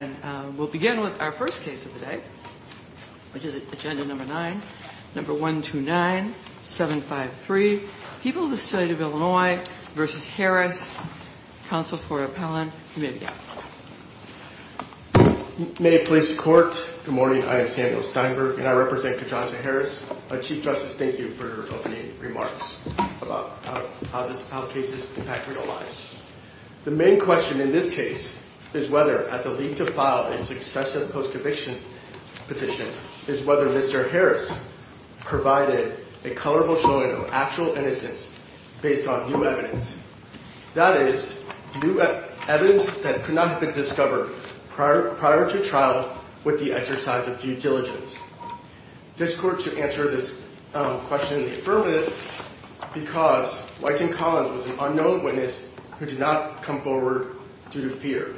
And we'll begin with our first case of the day, which is agenda number nine, number 129753, People of the State of Illinois v. Harris, counsel for appellant, you may begin. May it please the court, good morning, I am Samuel Steinberg and I represent Kajonza Harris. Chief Justice, thank you for opening remarks about how cases impact real lives. The main question in this case is whether, at the leap to file a successive post-eviction petition, is whether Mr. Harris provided a colorful showing of actual innocence based on new evidence. That is, new evidence that could not have been discovered prior to trial with the exercise of due diligence. This court should answer this question in the affirmative because Wytham Collins was an unknown witness who did not come forward due to fear.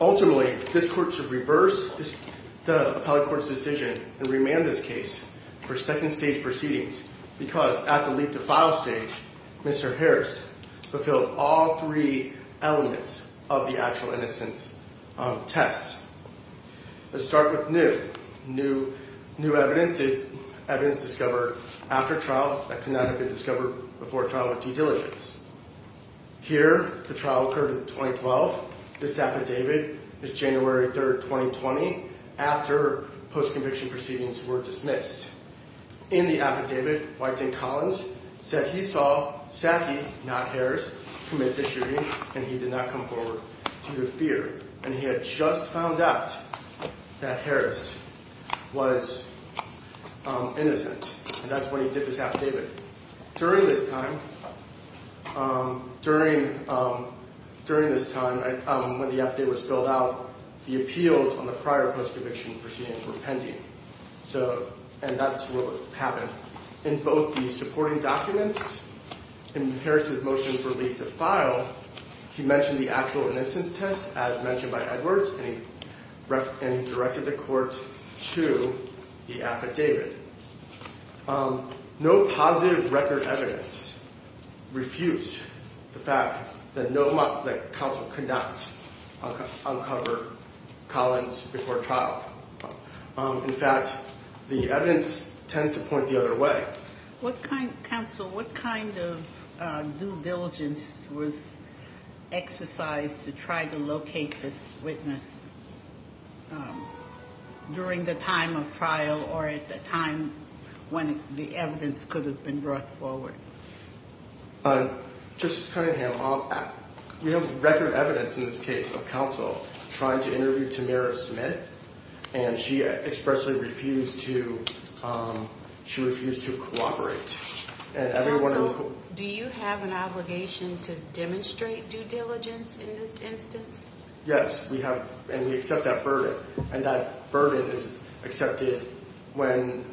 Ultimately, this court should reverse the appellate court's decision and remand this case for second stage proceedings because at the leap to file stage, Mr. Harris fulfilled all three elements of the actual innocence test. Let's start with new. New evidence is evidence discovered after trial that could not have been discovered before trial with due diligence. Here, the trial occurred in 2012. This affidavit is January 3rd, 2020, after post-conviction proceedings were dismissed. In the affidavit, Wytham Collins said he saw Saki, not Harris, commit the shooting and he did not come forward due to fear. And he had just found out that Harris was innocent, and that's why he did this affidavit. During this time, when the affidavit was filled out, the appeals on the prior post-conviction proceedings were pending. And that's what happened. In both the supporting documents and Harris' motion for leap to file, he mentioned the actual innocence test, as mentioned by Edwards, and he directed the court to the affidavit. No positive record evidence refutes the fact that counsel could not uncover Collins before trial. In fact, the evidence tends to point the other way. Counsel, what kind of due diligence was exercised to try to locate this witness during the time of trial or at the time when the evidence could have been brought forward? Justice Cunningham, we have record evidence in this case of counsel trying to interview Tamara Smith, and she expressly refused to cooperate. Counsel, do you have an obligation to demonstrate due diligence in this instance? Yes, we have, and we accept that burden, and that burden is accepted when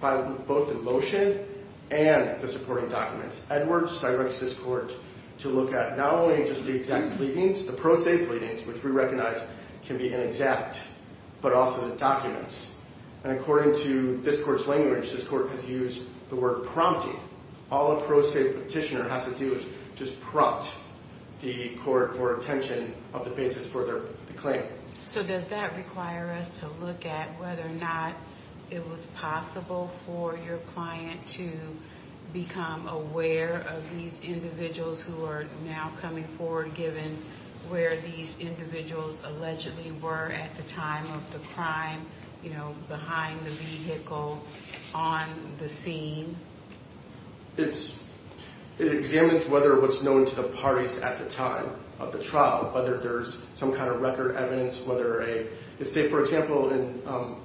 both the motion and the supporting documents. Edwards directs this court to look at not only just the exact pleadings, the pro se pleadings, which we recognize can be inexact, but also the documents. And according to this court's language, this court has used the word prompting. All a pro se petitioner has to do is just prompt the court for attention of the basis for their claim. So does that require us to look at whether or not it was possible for your client to become aware of these individuals who are now coming forward, given where these individuals allegedly were at the time of the crime, you know, behind the vehicle, on the scene? It examines whether what's known to the parties at the time of the trial, whether there's some kind of record evidence, whether a, say, for example,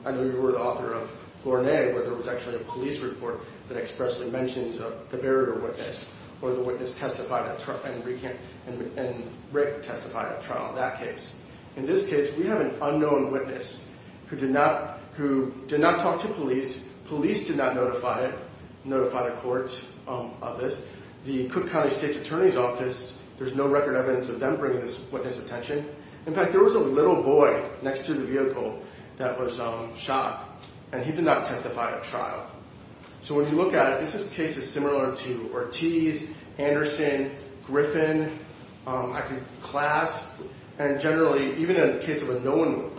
I know you were the author of Flournay, where there was actually a police report that expressly mentions the burial witness, or the witness testified at trial, and Rick testified at trial in that case. In this case, we have an unknown witness who did not talk to police. Police did not notify the court of this. The Cook County State's Attorney's Office, there's no record evidence of them bringing this witness attention. In fact, there was a little boy next to the vehicle that was shot, and he did not testify at trial. So when you look at it, this is cases similar to Ortiz, Anderson, Griffin. I could clasp. And generally, even in the case of a known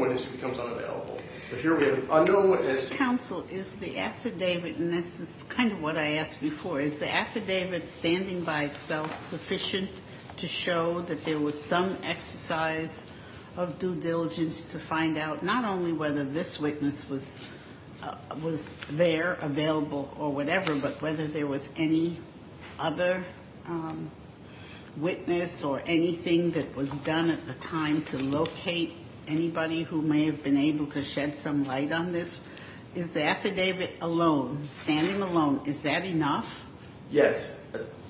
witness, it becomes unavailable. But here we have an unknown witness. Your counsel, is the affidavit, and this is kind of what I asked before, is the affidavit standing by itself sufficient to show that there was some exercise of due diligence to find out not only whether this witness was there, available, or whatever, but whether there was any other witness or anything that was done at the time to locate anybody who may have been able to shed some light on this? Is the affidavit alone, standing alone, is that enough? Yes,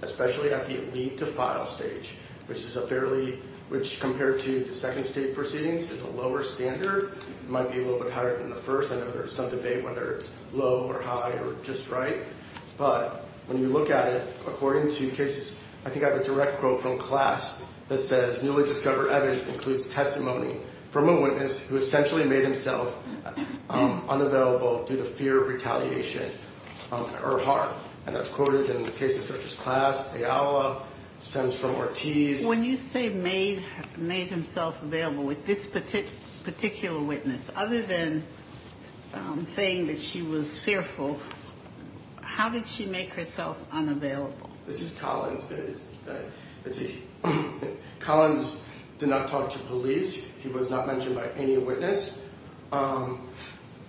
especially at the lead to file stage, which is a fairly, which compared to the second state proceedings is a lower standard. It might be a little bit higher than the first. I know there's some debate whether it's low or high or just right. But when you look at it, according to cases, I think I have a direct quote from class that says newly discovered evidence includes testimony from a witness who essentially made himself unavailable due to fear of retaliation or harm. And that's quoted in cases such as class, Ayala, stems from Ortiz. When you say made himself available with this particular witness, other than saying that she was fearful, how did she make herself unavailable? This is Collins. Collins did not talk to police. He was not mentioned by any witness.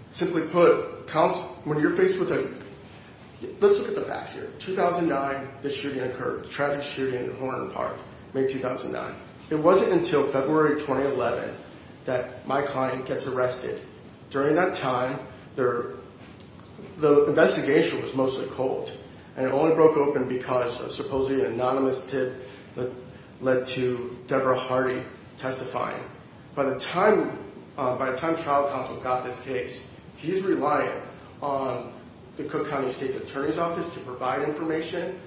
Simply put, when you're faced with a, let's look at the facts here. 2009, the shooting occurred. Traffic shooting in Horner Park, May 2009. It wasn't until February 2011 that my client gets arrested. During that time, the investigation was mostly cold and it only broke open because of supposedly an anonymous tip that led to Deborah Hardy testifying. By the time, by the time trial counsel got this case, he's reliant on the Cook County State's Attorney's Office to provide information.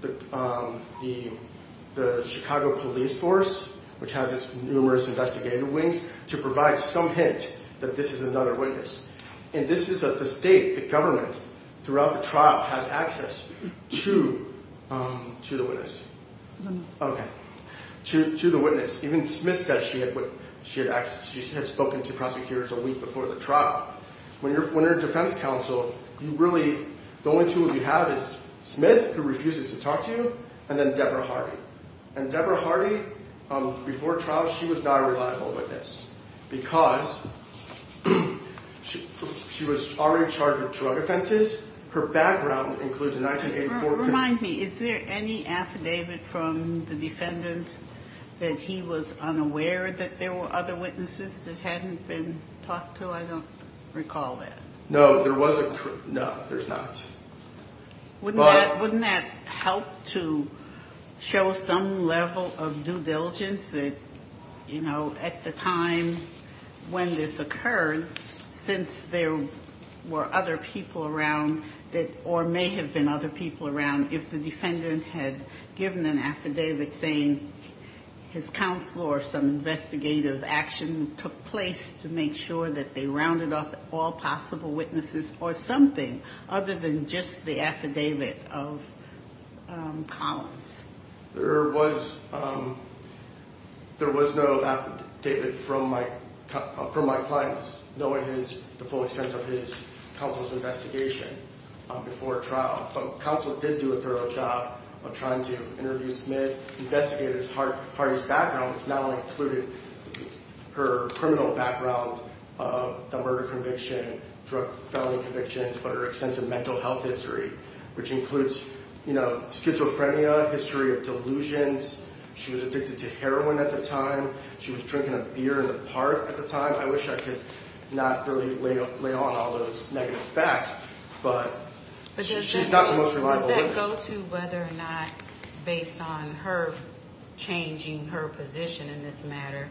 The Chicago Police Force, which has its numerous investigative wings, to provide some hint that this is another witness. And this is the state, the government, throughout the trial has access to the witness. To the witness. Even Smith said she had spoken to prosecutors a week before the trial. When you're a defense counsel, you really, the only two you have is Smith, who refuses to talk to you, and then Deborah Hardy. And Deborah Hardy, before trial, she was not a reliable witness. Because she was already in charge of drug offenses. Her background includes 1984. Remind me, is there any affidavit from the defendant that he was unaware that there were other witnesses that hadn't been talked to? I don't recall that. No, there wasn't. No, there's not. Wouldn't that help to show some level of due diligence that, you know, at the time when this occurred, since there were other people around that, or may have been other people around if the defendant had given an affidavit saying his counsel or some investigative action took place to make sure that they rounded up all possible witnesses or something. Other than just the affidavit of Collins. There was no affidavit from my clients, knowing the full extent of his counsel's investigation before trial. But counsel did do a thorough job of trying to interview Smith, investigate Hardy's background, which not only included her criminal background, the murder conviction, drug felony convictions, but her extensive mental health history, which includes, you know, schizophrenia, history of delusions. She was addicted to heroin at the time. She was drinking a beer in the park at the time. I wish I could not really lay on all those negative facts, but she's not the most reliable witness. Does that go to whether or not, based on her changing her position in this matter,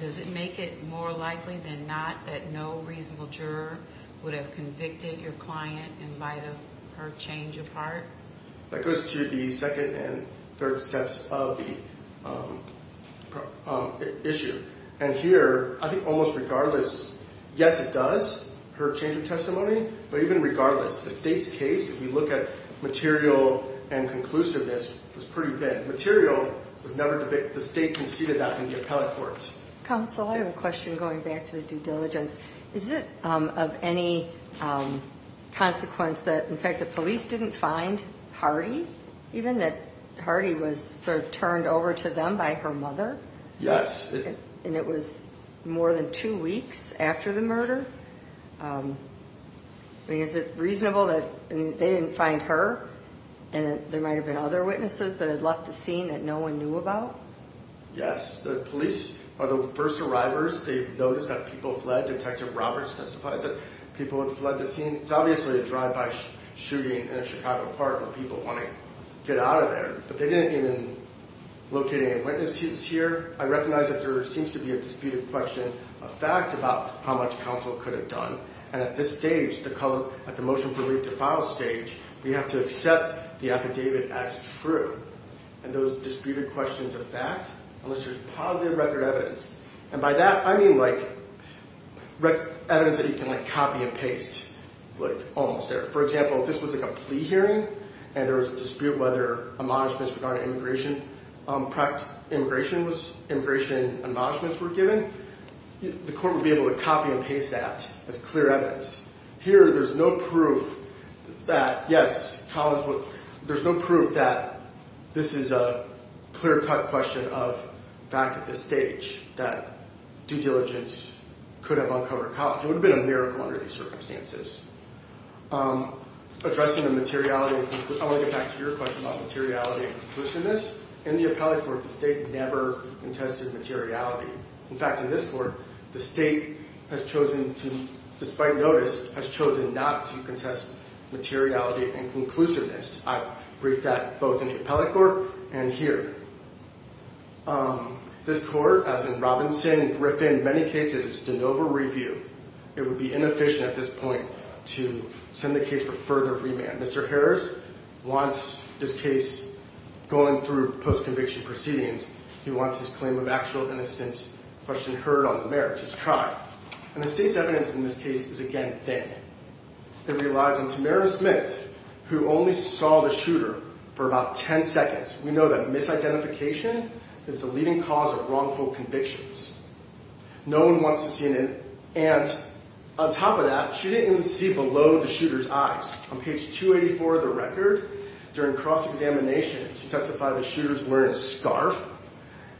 does it make it more likely than not that no reasonable juror would have convicted your client in light of her change of heart? That goes to the second and third steps of the issue. And here, I think almost regardless, yes, it does, her change of testimony. But even regardless, the state's case, if you look at material and conclusiveness, was pretty good. The state conceded that in the appellate court. Counsel, I have a question going back to the due diligence. Is it of any consequence that, in fact, the police didn't find Hardy, even that Hardy was sort of turned over to them by her mother? Yes. And it was more than two weeks after the murder? I mean, is it reasonable that they didn't find her and there might have been other witnesses that had left the scene that no one knew about? Yes. The police are the first arrivers. They noticed that people fled. Detective Roberts testifies that people had fled the scene. It's obviously a drive-by shooting in a Chicago park where people want to get out of there, but they didn't even locate any witnesses here. I recognize that there seems to be a disputed question of fact about how much counsel could have done. And at this stage, at the motion for leave to file stage, we have to accept the affidavit as true. And those disputed questions of fact, unless there's positive record evidence. And by that, I mean, like, evidence that you can, like, copy and paste, like, almost there. For example, if this was, like, a plea hearing and there was a dispute whether admonishments regarding immigration admonishments were given, the court would be able to copy and paste that as clear evidence. Here, there's no proof that, yes, there's no proof that this is a clear-cut question of fact at this stage, that due diligence could have uncovered a college. It would have been a miracle under these circumstances. Addressing the materiality, I want to get back to your question about materiality and conclusiveness. In the appellate court, the state never contested materiality. In fact, in this court, the state has chosen to, despite notice, has chosen not to contest materiality and conclusiveness. I briefed that both in the appellate court and here. This court, as in Robinson, Griffin, many cases, it's de novo review. It would be inefficient at this point to send the case for further remand. Mr. Harris wants this case going through post-conviction proceedings. He wants his claim of actual innocence question heard on the merits. It's tried. And the state's evidence in this case is, again, thin. It relies on Tamara Smith, who only saw the shooter for about 10 seconds. We know that misidentification is the leading cause of wrongful convictions. No one wants to see it. And on top of that, she didn't even see below the shooter's eyes. On page 284 of the record, during cross-examination, she testified the shooter's wearing a scarf,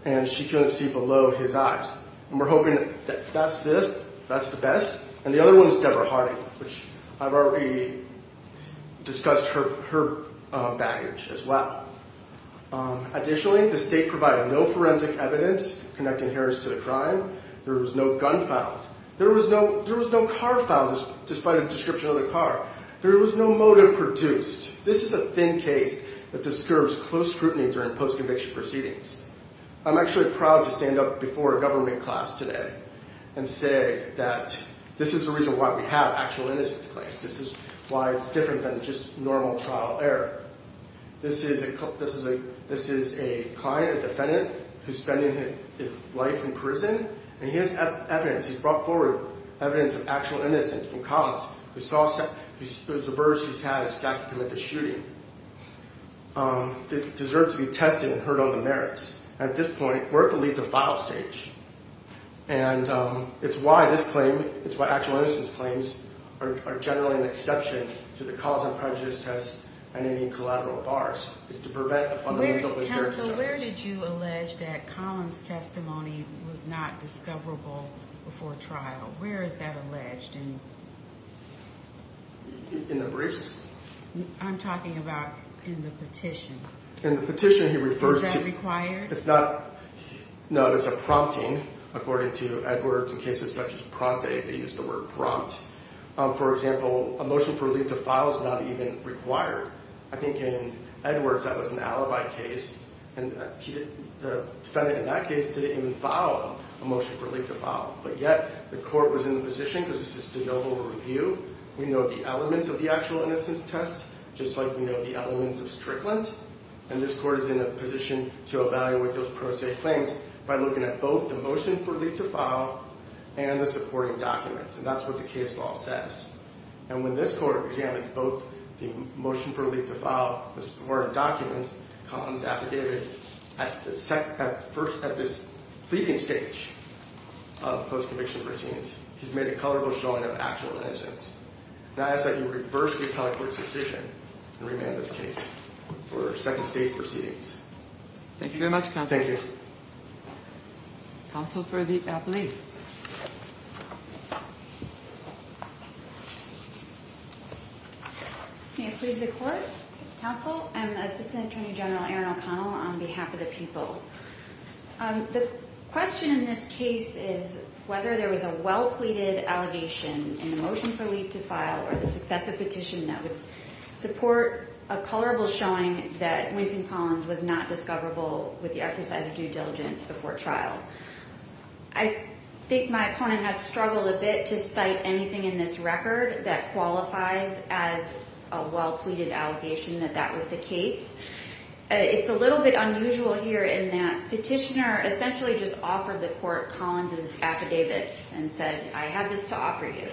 and she couldn't see below his eyes. And we're hoping that that's this. That's the best. And the other one is Deborah Harding, which I've already discussed her baggage as well. Additionally, the state provided no forensic evidence connecting Harris to the crime. There was no gun found. There was no car found, despite a description of the car. There was no motive produced. This is a thin case that disturbs close scrutiny during post-conviction proceedings. I'm actually proud to stand up before a government class today and say that this is the reason why we have actual innocence claims. This is why it's different than just normal trial error. This is a client, a defendant, who's spending his life in prison, and he has evidence. He's brought forward evidence of actual innocence from Collins. There's a verge he has stacked to commit the shooting. It deserves to be tested and heard on the merits. At this point, we're at the lead-the-file stage. And it's why this claim, it's why actual innocence claims are generally an exception to the cause and prejudice test and any collateral bars. It's to prevent a fundamental hysterical justice. Counsel, where did you allege that Collins' testimony was not discoverable before trial? Where is that alleged? In the briefs? I'm talking about in the petition. In the petition, he refers to- Is that required? It's not. No, it's a prompting, according to Edwards. In cases such as Pronte, they use the word prompt. For example, a motion for relief to file is not even required. I think in Edwards, that was an alibi case, and the defendant in that case didn't even file a motion for relief to file. But yet, the court was in the position, because this is de novo review, we know the elements of the actual innocence test, just like we know the elements of Strickland. And this court is in a position to evaluate those pro se claims by looking at both the motion for relief to file and the supporting documents. And that's what the case law says. And when this court examines both the motion for relief to file, the supporting documents, Collins' affidavit, at this fleeting stage of post-conviction routines, he's made a colorful showing of actual innocence. And I ask that you reverse the appellate court's decision and remand this case for second stage proceedings. Thank you very much, counsel. Thank you. Counsel for the appellee. May it please the court. Counsel, I'm Assistant Attorney General Erin O'Connell on behalf of the people. The question in this case is whether there was a well-pleaded allegation in the motion for relief to file or the successive petition that would support a colorful showing that Wynton Collins was not discoverable with the exercise of due diligence before trial. I think my opponent has struggled a bit to cite anything in this record that qualifies as a well-pleaded allegation that that was the case. It's a little bit unusual here in that petitioner essentially just offered the court Collins' affidavit and said, I have this to offer you.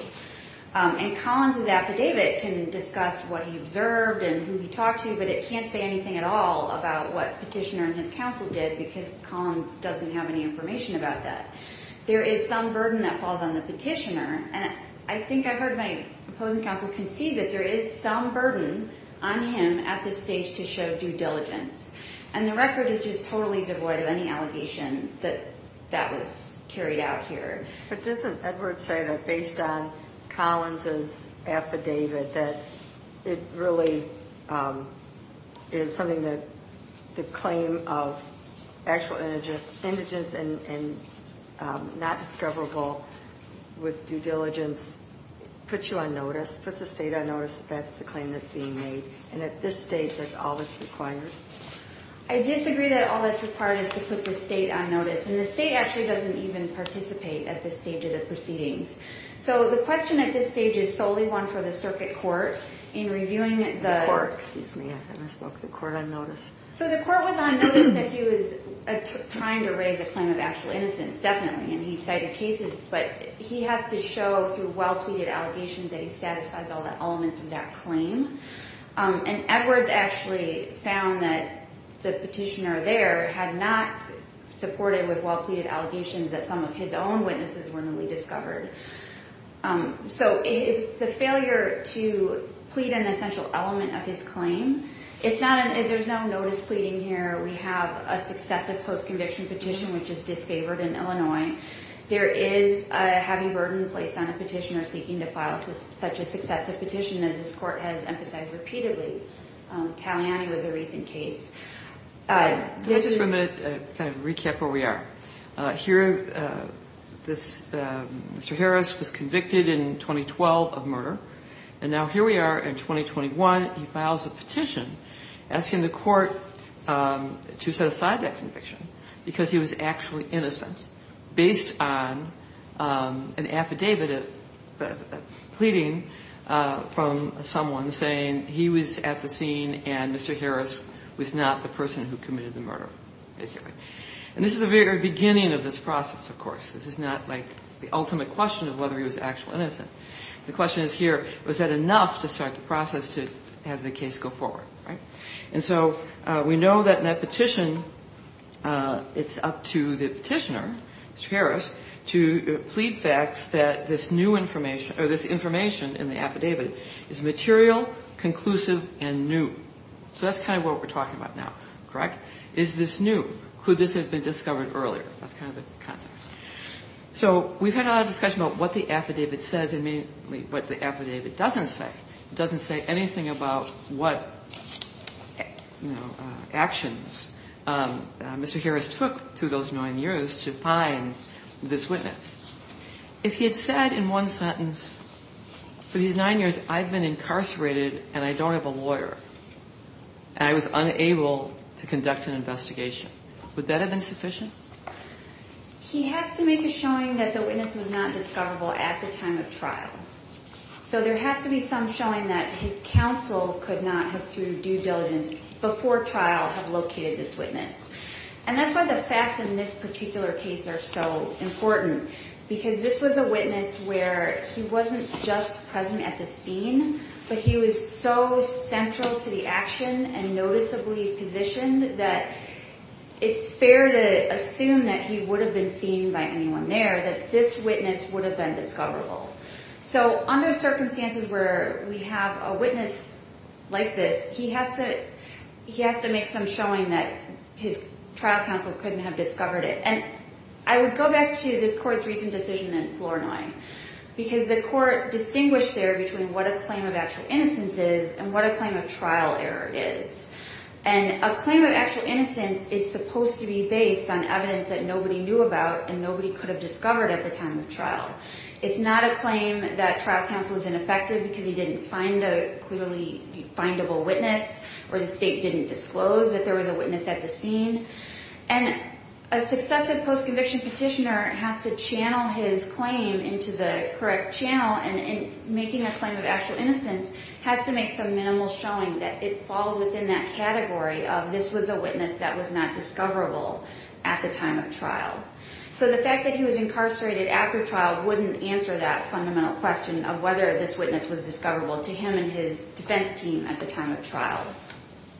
And Collins' affidavit can discuss what he observed and who he talked to, but it can't say anything at all about what petitioner and his counsel did, because Collins doesn't have any information about that. There is some burden that falls on the petitioner. And I think I heard my opposing counsel concede that there is some burden on him at this stage to show due diligence. And the record is just totally devoid of any allegation that that was carried out here. But doesn't Edward say that based on Collins' affidavit that it really is something that the claim of actual indigence and not discoverable with due diligence puts you on notice, puts the state on notice that that's the claim that's being made? And at this stage, that's all that's required? I disagree that all that's required is to put the state on notice. And the state actually doesn't even participate at this stage of the proceedings. So the question at this stage is solely one for the circuit court in reviewing the court. Excuse me, I think I spoke to the court on notice. So the court was on notice that he was trying to raise a claim of actual innocence, definitely, and he cited cases. But he has to show through well-tweeted allegations that he satisfies all the elements of that claim. And Edwards actually found that the petitioner there had not supported with well-tweeted allegations that some of his own witnesses were newly discovered. So it's the failure to plead an essential element of his claim. There's no notice pleading here. We have a successive post-conviction petition, which is disfavored in Illinois. There is a heavy burden placed on a petitioner seeking to file such a successive petition, as this court has emphasized repeatedly. Taliani was a recent case. Let me just for a minute kind of recap where we are. Here, Mr. Harris was convicted in 2012 of murder. And now here we are in 2021. He files a petition asking the court to set aside that conviction because he was actually innocent, based on an affidavit pleading from someone saying he was at the scene and Mr. Harris was not the person who committed the murder, basically. And this is the very beginning of this process, of course. This is not, like, the ultimate question of whether he was actually innocent. The question is here, was that enough to start the process to have the case go forward, right? And so we know that in that petition, it's up to the petitioner, Mr. Harris, to plead facts that this new information or this information in the affidavit is material, conclusive, and new. So that's kind of what we're talking about now, correct? Is this new? Could this have been discovered earlier? That's kind of the context. So we've had a lot of discussion about what the affidavit says and what the affidavit doesn't say. It doesn't say anything about what actions Mr. Harris took through those nine years to find this witness. If he had said in one sentence, for these nine years I've been incarcerated and I don't have a lawyer and I was unable to conduct an investigation, would that have been sufficient? He has to make a showing that the witness was not discoverable at the time of trial. So there has to be some showing that his counsel could not have, through due diligence, before trial, have located this witness. And that's why the facts in this particular case are so important, because this was a witness where he wasn't just present at the scene, but he was so central to the action and noticeably positioned that it's fair to assume that he would have been seen by anyone there, that this witness would have been discoverable. So under circumstances where we have a witness like this, he has to make some showing that his trial counsel couldn't have discovered it. And I would go back to this court's recent decision in Floor 9, because the court distinguished there between what a claim of actual innocence is and what a claim of trial error is. And a claim of actual innocence is supposed to be based on evidence that nobody knew about and nobody could have discovered at the time of trial. It's not a claim that trial counsel was ineffective because he didn't find a clearly findable witness or the state didn't disclose that there was a witness at the scene. And a successive post-conviction petitioner has to channel his claim into the correct channel, and making a claim of actual innocence has to make some minimal showing that it falls within that category of this was a witness that was not discoverable at the time of trial. So the fact that he was incarcerated after trial wouldn't answer that fundamental question of whether this witness was discoverable to him and his defense team at the time of trial.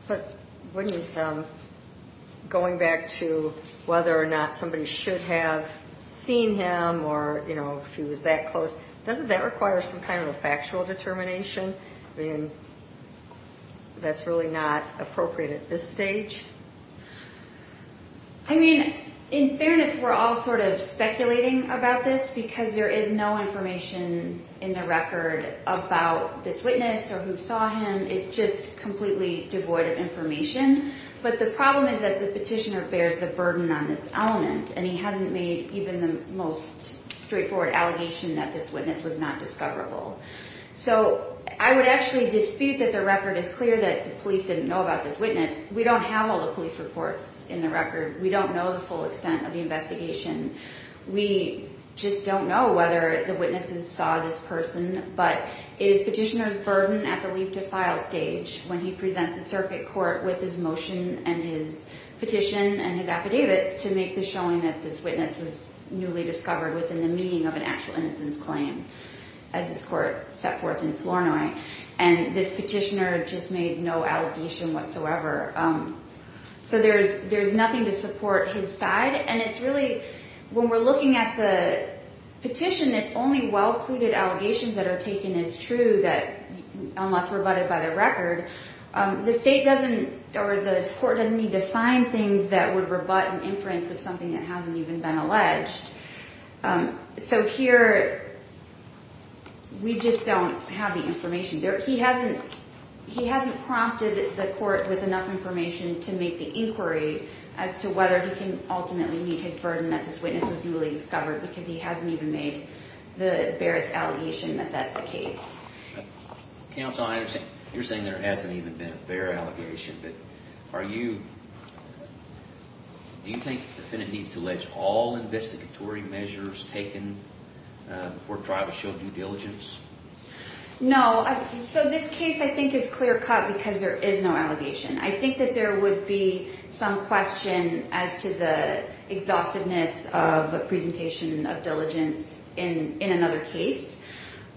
But wouldn't going back to whether or not somebody should have seen him or, you know, if he was that close, doesn't that require some kind of a factual determination? I mean, that's really not appropriate at this stage. I mean, in fairness, we're all sort of speculating about this because there is no information in the record about this witness or who saw him. It's just completely devoid of information. But the problem is that the petitioner bears the burden on this element, and he hasn't made even the most straightforward allegation that this witness was not discoverable. So I would actually dispute that the record is clear that the police didn't know about this witness. We don't have all the police reports in the record. We don't know the full extent of the investigation. We just don't know whether the witnesses saw this person. But it is petitioner's burden at the leave-to-file stage when he presents the circuit court with his motion and his petition and his affidavits to make the showing that this witness was newly discovered within the meaning of an actual innocence claim, as this court set forth in Flournoy. And this petitioner just made no allegation whatsoever. So there's nothing to support his side. And it's really when we're looking at the petition, it's only well-cluded allegations that are taken as true unless rebutted by the record. The state doesn't or the court doesn't need to find things that would rebut an inference of something that hasn't even been alleged. So here we just don't have the information. He hasn't prompted the court with enough information to make the inquiry as to whether he can ultimately meet his burden that this witness was newly discovered because he hasn't even made the barest allegation that that's the case. Counsel, I understand you're saying there hasn't even been a bare allegation. But are you – do you think the defendant needs to allege all investigatory measures taken before trial to show due diligence? No. So this case I think is clear-cut because there is no allegation. I think that there would be some question as to the exhaustiveness of a presentation of diligence in another case.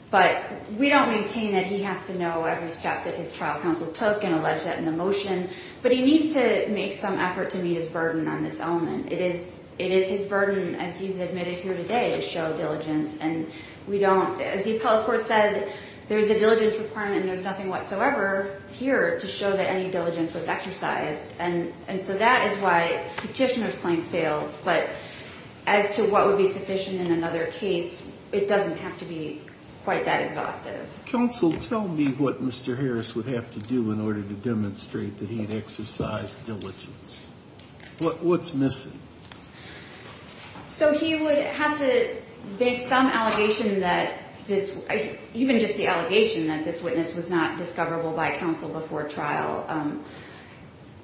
But we don't maintain that he has to know every step that his trial counsel took and allege that in the motion. But he needs to make some effort to meet his burden on this element. It is his burden, as he's admitted here today, to show diligence. And we don't – as the appellate court said, there's a diligence requirement and there's nothing whatsoever here to show that any diligence was exercised. And so that is why Petitioner's claim fails. But as to what would be sufficient in another case, it doesn't have to be quite that exhaustive. Counsel, tell me what Mr. Harris would have to do in order to demonstrate that he had exercised diligence. What's missing? So he would have to make some allegation that this – even just the allegation that this witness was not discoverable by counsel before trial.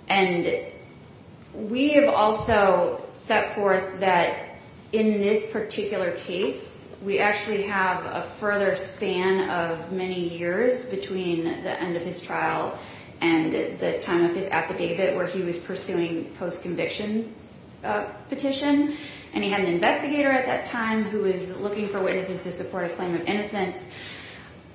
And we have also set forth that in this particular case, we actually have a further span of many years between the end of his trial and the time of his affidavit where he was pursuing post-conviction petition. And he had an investigator at that time who was looking for witnesses to support a claim of innocence.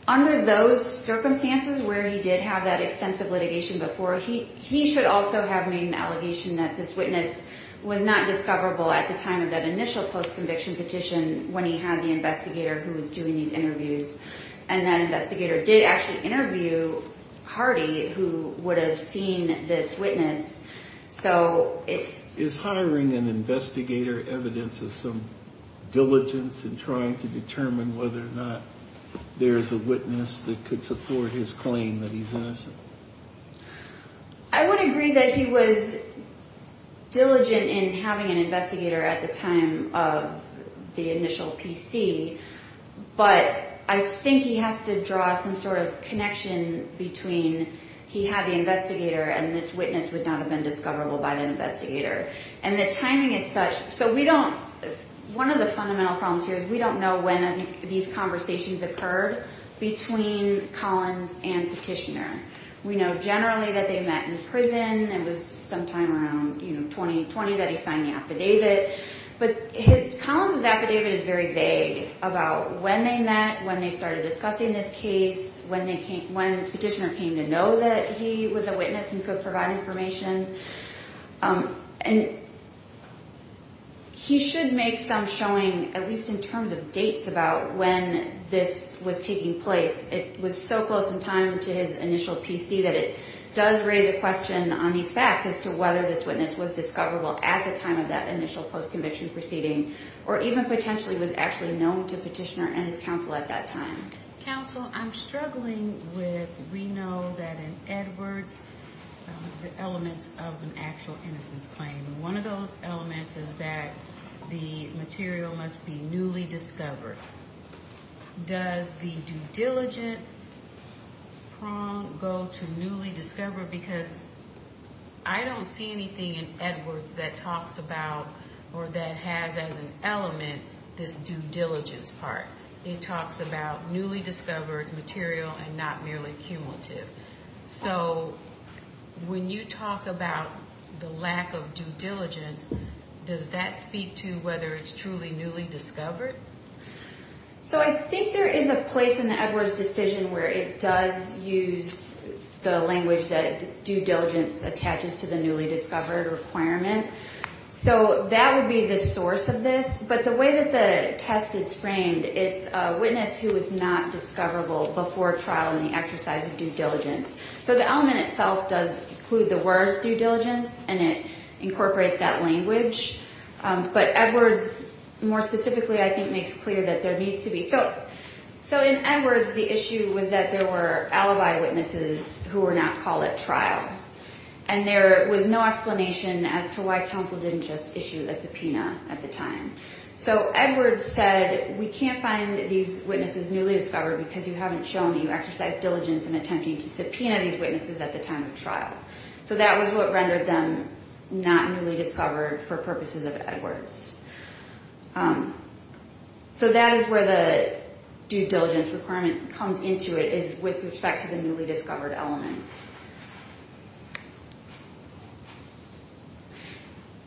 Under those circumstances where he did have that extensive litigation before, he should also have made an allegation that this witness was not discoverable at the time of that initial post-conviction petition when he had the investigator who was doing these interviews. And that investigator did actually interview Hardy who would have seen this witness. So it's – Is hiring an investigator evidence of some diligence in trying to determine whether or not there is a witness that could support his claim that he's innocent? I would agree that he was diligent in having an investigator at the time of the initial PC. But I think he has to draw some sort of connection between he had the investigator and this witness would not have been discoverable by the investigator. And the timing is such – so we don't – one of the fundamental problems here is we don't know when these conversations occurred between Collins and Petitioner. We know generally that they met in prison. It was sometime around 2020 that he signed the affidavit. But Collins' affidavit is very vague about when they met, when they started discussing this case, when Petitioner came to know that he was a witness and could provide information. And he should make some showing, at least in terms of dates about when this was taking place. It was so close in time to his initial PC that it does raise a question on these facts as to whether this witness was discoverable at the time of that initial post-conviction proceeding or even potentially was actually known to Petitioner and his counsel at that time. Counsel, I'm struggling with – we know that in Edwards the elements of an actual innocence claim. One of those elements is that the material must be newly discovered. Does the due diligence prong go to newly discovered? Because I don't see anything in Edwards that talks about or that has as an element this due diligence part. It talks about newly discovered material and not merely cumulative. So when you talk about the lack of due diligence, does that speak to whether it's truly newly discovered? So I think there is a place in the Edwards decision where it does use the language that due diligence attaches to the newly discovered requirement. So that would be the source of this. But the way that the test is framed, it's a witness who was not discoverable before trial in the exercise of due diligence. So the element itself does include the words due diligence and it incorporates that language. But Edwards more specifically I think makes clear that there needs to be – so in Edwards the issue was that there were alibi witnesses who were not called at trial. And there was no explanation as to why counsel didn't just issue a subpoena at the time. So Edwards said we can't find these witnesses newly discovered because you haven't shown that you exercised diligence in attempting to subpoena these witnesses at the time of trial. So that was what rendered them not newly discovered for purposes of Edwards. So that is where the due diligence requirement comes into it is with respect to the newly discovered element.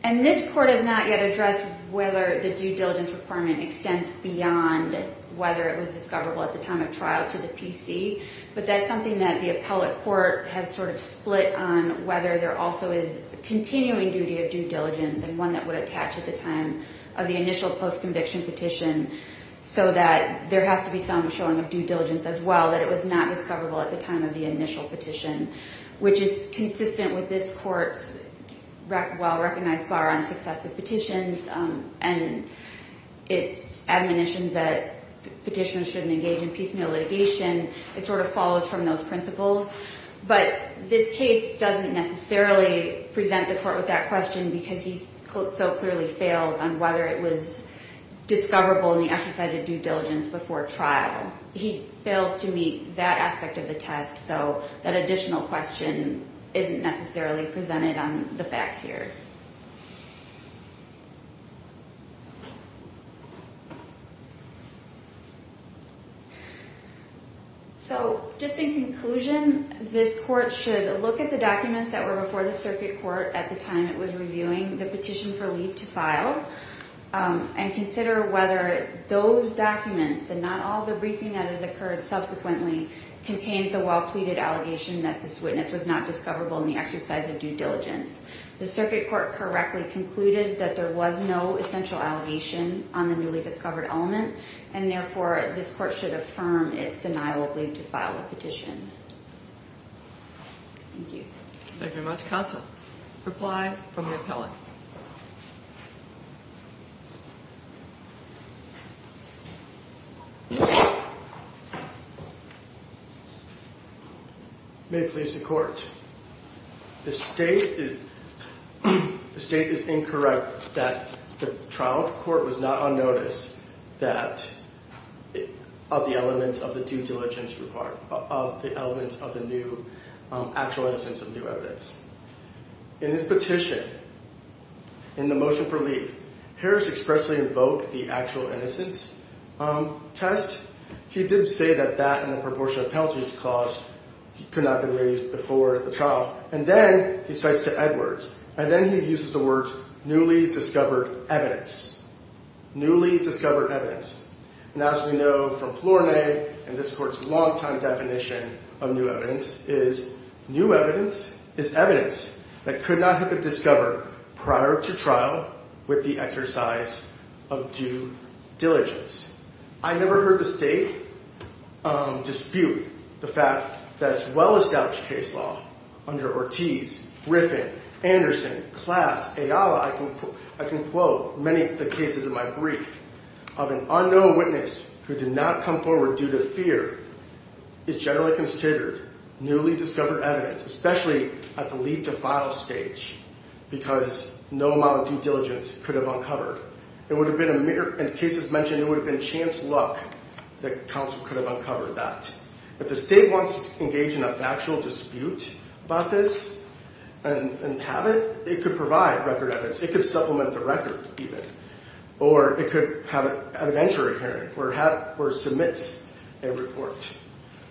And this court has not yet addressed whether the due diligence requirement extends beyond whether it was discoverable at the time of trial to the PC. But that's something that the appellate court has sort of split on whether there also is continuing duty of due diligence and one that would attach at the time of the initial post-conviction petition so that there has to be some showing of due diligence as well that it was not discoverable at the time of the initial petition. Which is consistent with this court's well-recognized bar on successive petitions and its admonition that petitioners shouldn't engage in piecemeal litigation. It sort of follows from those principles. But this case doesn't necessarily present the court with that question because he so clearly fails on whether it was discoverable in the exercise of due diligence before trial. He fails to meet that aspect of the test. So that additional question isn't necessarily presented on the facts here. So just in conclusion, this court should look at the documents that were before the circuit court at the time it was reviewing the petition for leave to file and consider whether those documents and not all the briefing that has occurred subsequently contains a well-pleaded allegation that this witness was not discoverable in the exercise of due diligence. The circuit court correctly concluded that there was no essential allegation on the newly discovered element and therefore this court should affirm its denial of leave to file a petition. Thank you. Thank you very much counsel. Reply from the appellate. May it please the court. The state is incorrect that the trial court was not on notice of the elements of the due diligence report, of the elements of the actual innocence of new evidence. In his petition, in the motion for leave, Harris expressly invoked the actual innocence test. He did say that that and the proportion of penalties caused could not be raised before the trial. And then he cites the Edwards. And then he uses the words newly discovered evidence. Newly discovered evidence. And as we know from Flournoy and this court's longtime definition of new evidence is new evidence is evidence that could not have been discovered prior to trial with the exercise of due diligence. I never heard the state dispute the fact that it's well established case law under Ortiz, Griffin, Anderson, Klass, Ayala, I can quote many of the cases in my brief of an unknown witness who did not come forward due to fear is generally considered newly discovered evidence, especially at the lead to file stage, because no amount of due diligence could have uncovered. It would have been a mirror and cases mentioned it would have been chance luck that counsel could have uncovered that. But the state wants to engage in a factual dispute about this and have it. It could provide record evidence. It could supplement the record. Or it could have an entry hearing or have or submits a report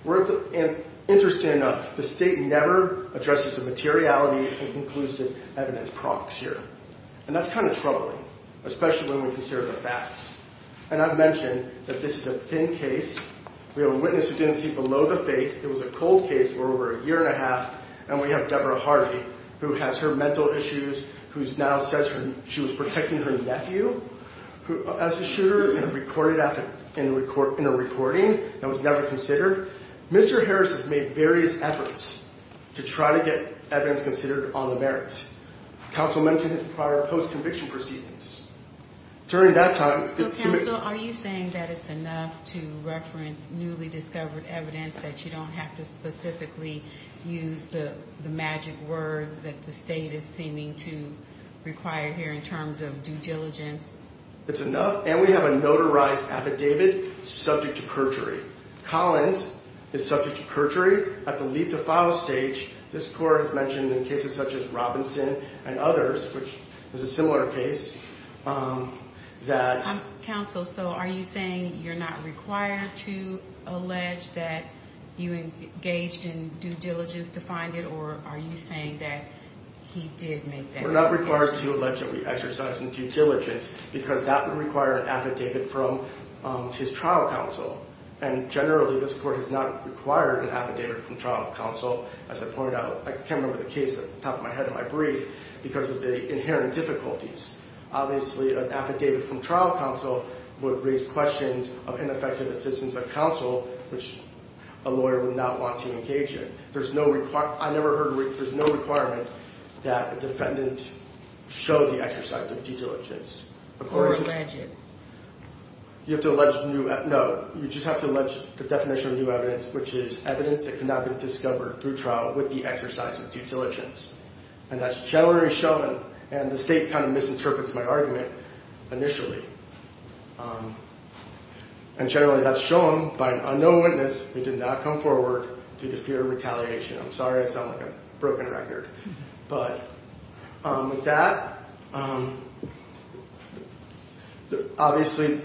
worth. And interestingly enough, the state never addresses the materiality and inclusive evidence prox here. And that's kind of troubling, especially when we consider the facts. And I've mentioned that this is a thin case. We have a witness who didn't see below the face. It was a cold case for over a year and a half. And we have Deborah Harvey, who has her mental issues, who's now says she was protecting her nephew as a shooter, recorded in a recording that was never considered. Mr. Harris has made various efforts to try to get evidence considered on the merits. Counsel mentioned prior post-conviction proceedings during that time. So are you saying that it's enough to reference newly discovered evidence that you don't have to specifically use the magic words that the state is seeming to require here in terms of due diligence? It's enough. And we have a notarized affidavit subject to perjury. Collins is subject to perjury. At the leap to file stage, this court has mentioned in cases such as Robinson and others, which is a similar case, that- Counsel, so are you saying you're not required to allege that you engaged in due diligence to find it? Or are you saying that he did make that allegation? We're not required to allege that we exercised due diligence because that would require an affidavit from his trial counsel. And generally, this court has not required an affidavit from trial counsel. As I pointed out, I can't remember the case off the top of my head in my brief because of the inherent difficulties. Obviously, an affidavit from trial counsel would raise questions of ineffective assistance of counsel, which a lawyer would not want to engage in. There's no requirement- I never heard- there's no requirement that a defendant show the exercise of due diligence. Or allege it. You have to allege new- no. You just have to allege the definition of new evidence, which is evidence that cannot be discovered through trial with the exercise of due diligence. And that's generally shown, and the state kind of misinterprets my argument initially. And generally, that's shown by an unknown witness who did not come forward due to fear of retaliation. I'm sorry I sound like a broken record. But with that, obviously,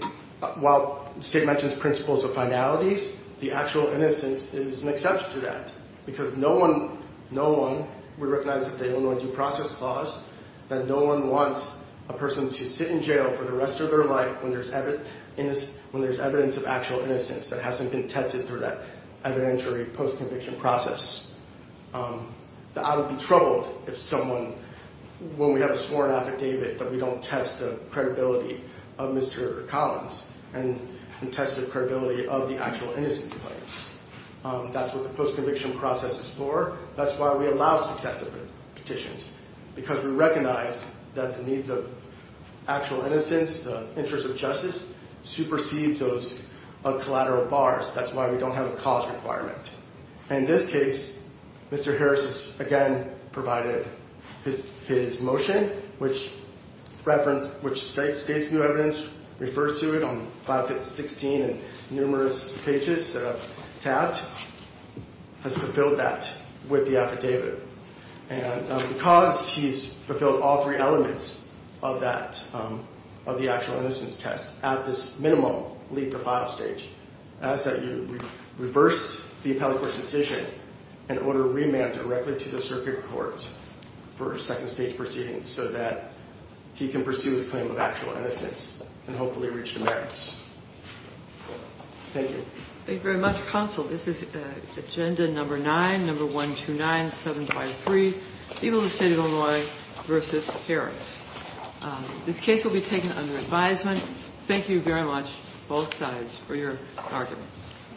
while the state mentions principles of finalities, the actual innocence is an exception to that. Because no one would recognize that the Illinois Due Process Clause, that no one wants a person to sit in jail for the rest of their life when there's evidence of actual innocence that hasn't been tested through that evidentiary post-conviction process. That I would be troubled if someone, when we have a sworn affidavit, that we don't test the credibility of Mr. Collins, and test the credibility of the actual innocence claims. That's what the post-conviction process is for. That's why we allow successive petitions. Because we recognize that the needs of actual innocence, the interest of justice, supersedes those of collateral bars. That's why we don't have a cause requirement. And in this case, Mr. Harris has again provided his motion, which states new evidence, refers to it on file 16 and numerous pages tabbed, has fulfilled that with the affidavit. And because he's fulfilled all three elements of that, of the actual innocence test, at this minimum, leave the file stage, ask that you reverse the appellate court's decision and order remand directly to the circuit court for a second stage proceeding so that he can pursue his claim of actual innocence and hopefully reach the merits. Thank you. Thank you very much, Counsel. This is Agenda Number 9, Number 129753, People of the State of Illinois v. Harris. This case will be taken under advisement. Thank you very much, both sides, for your arguments.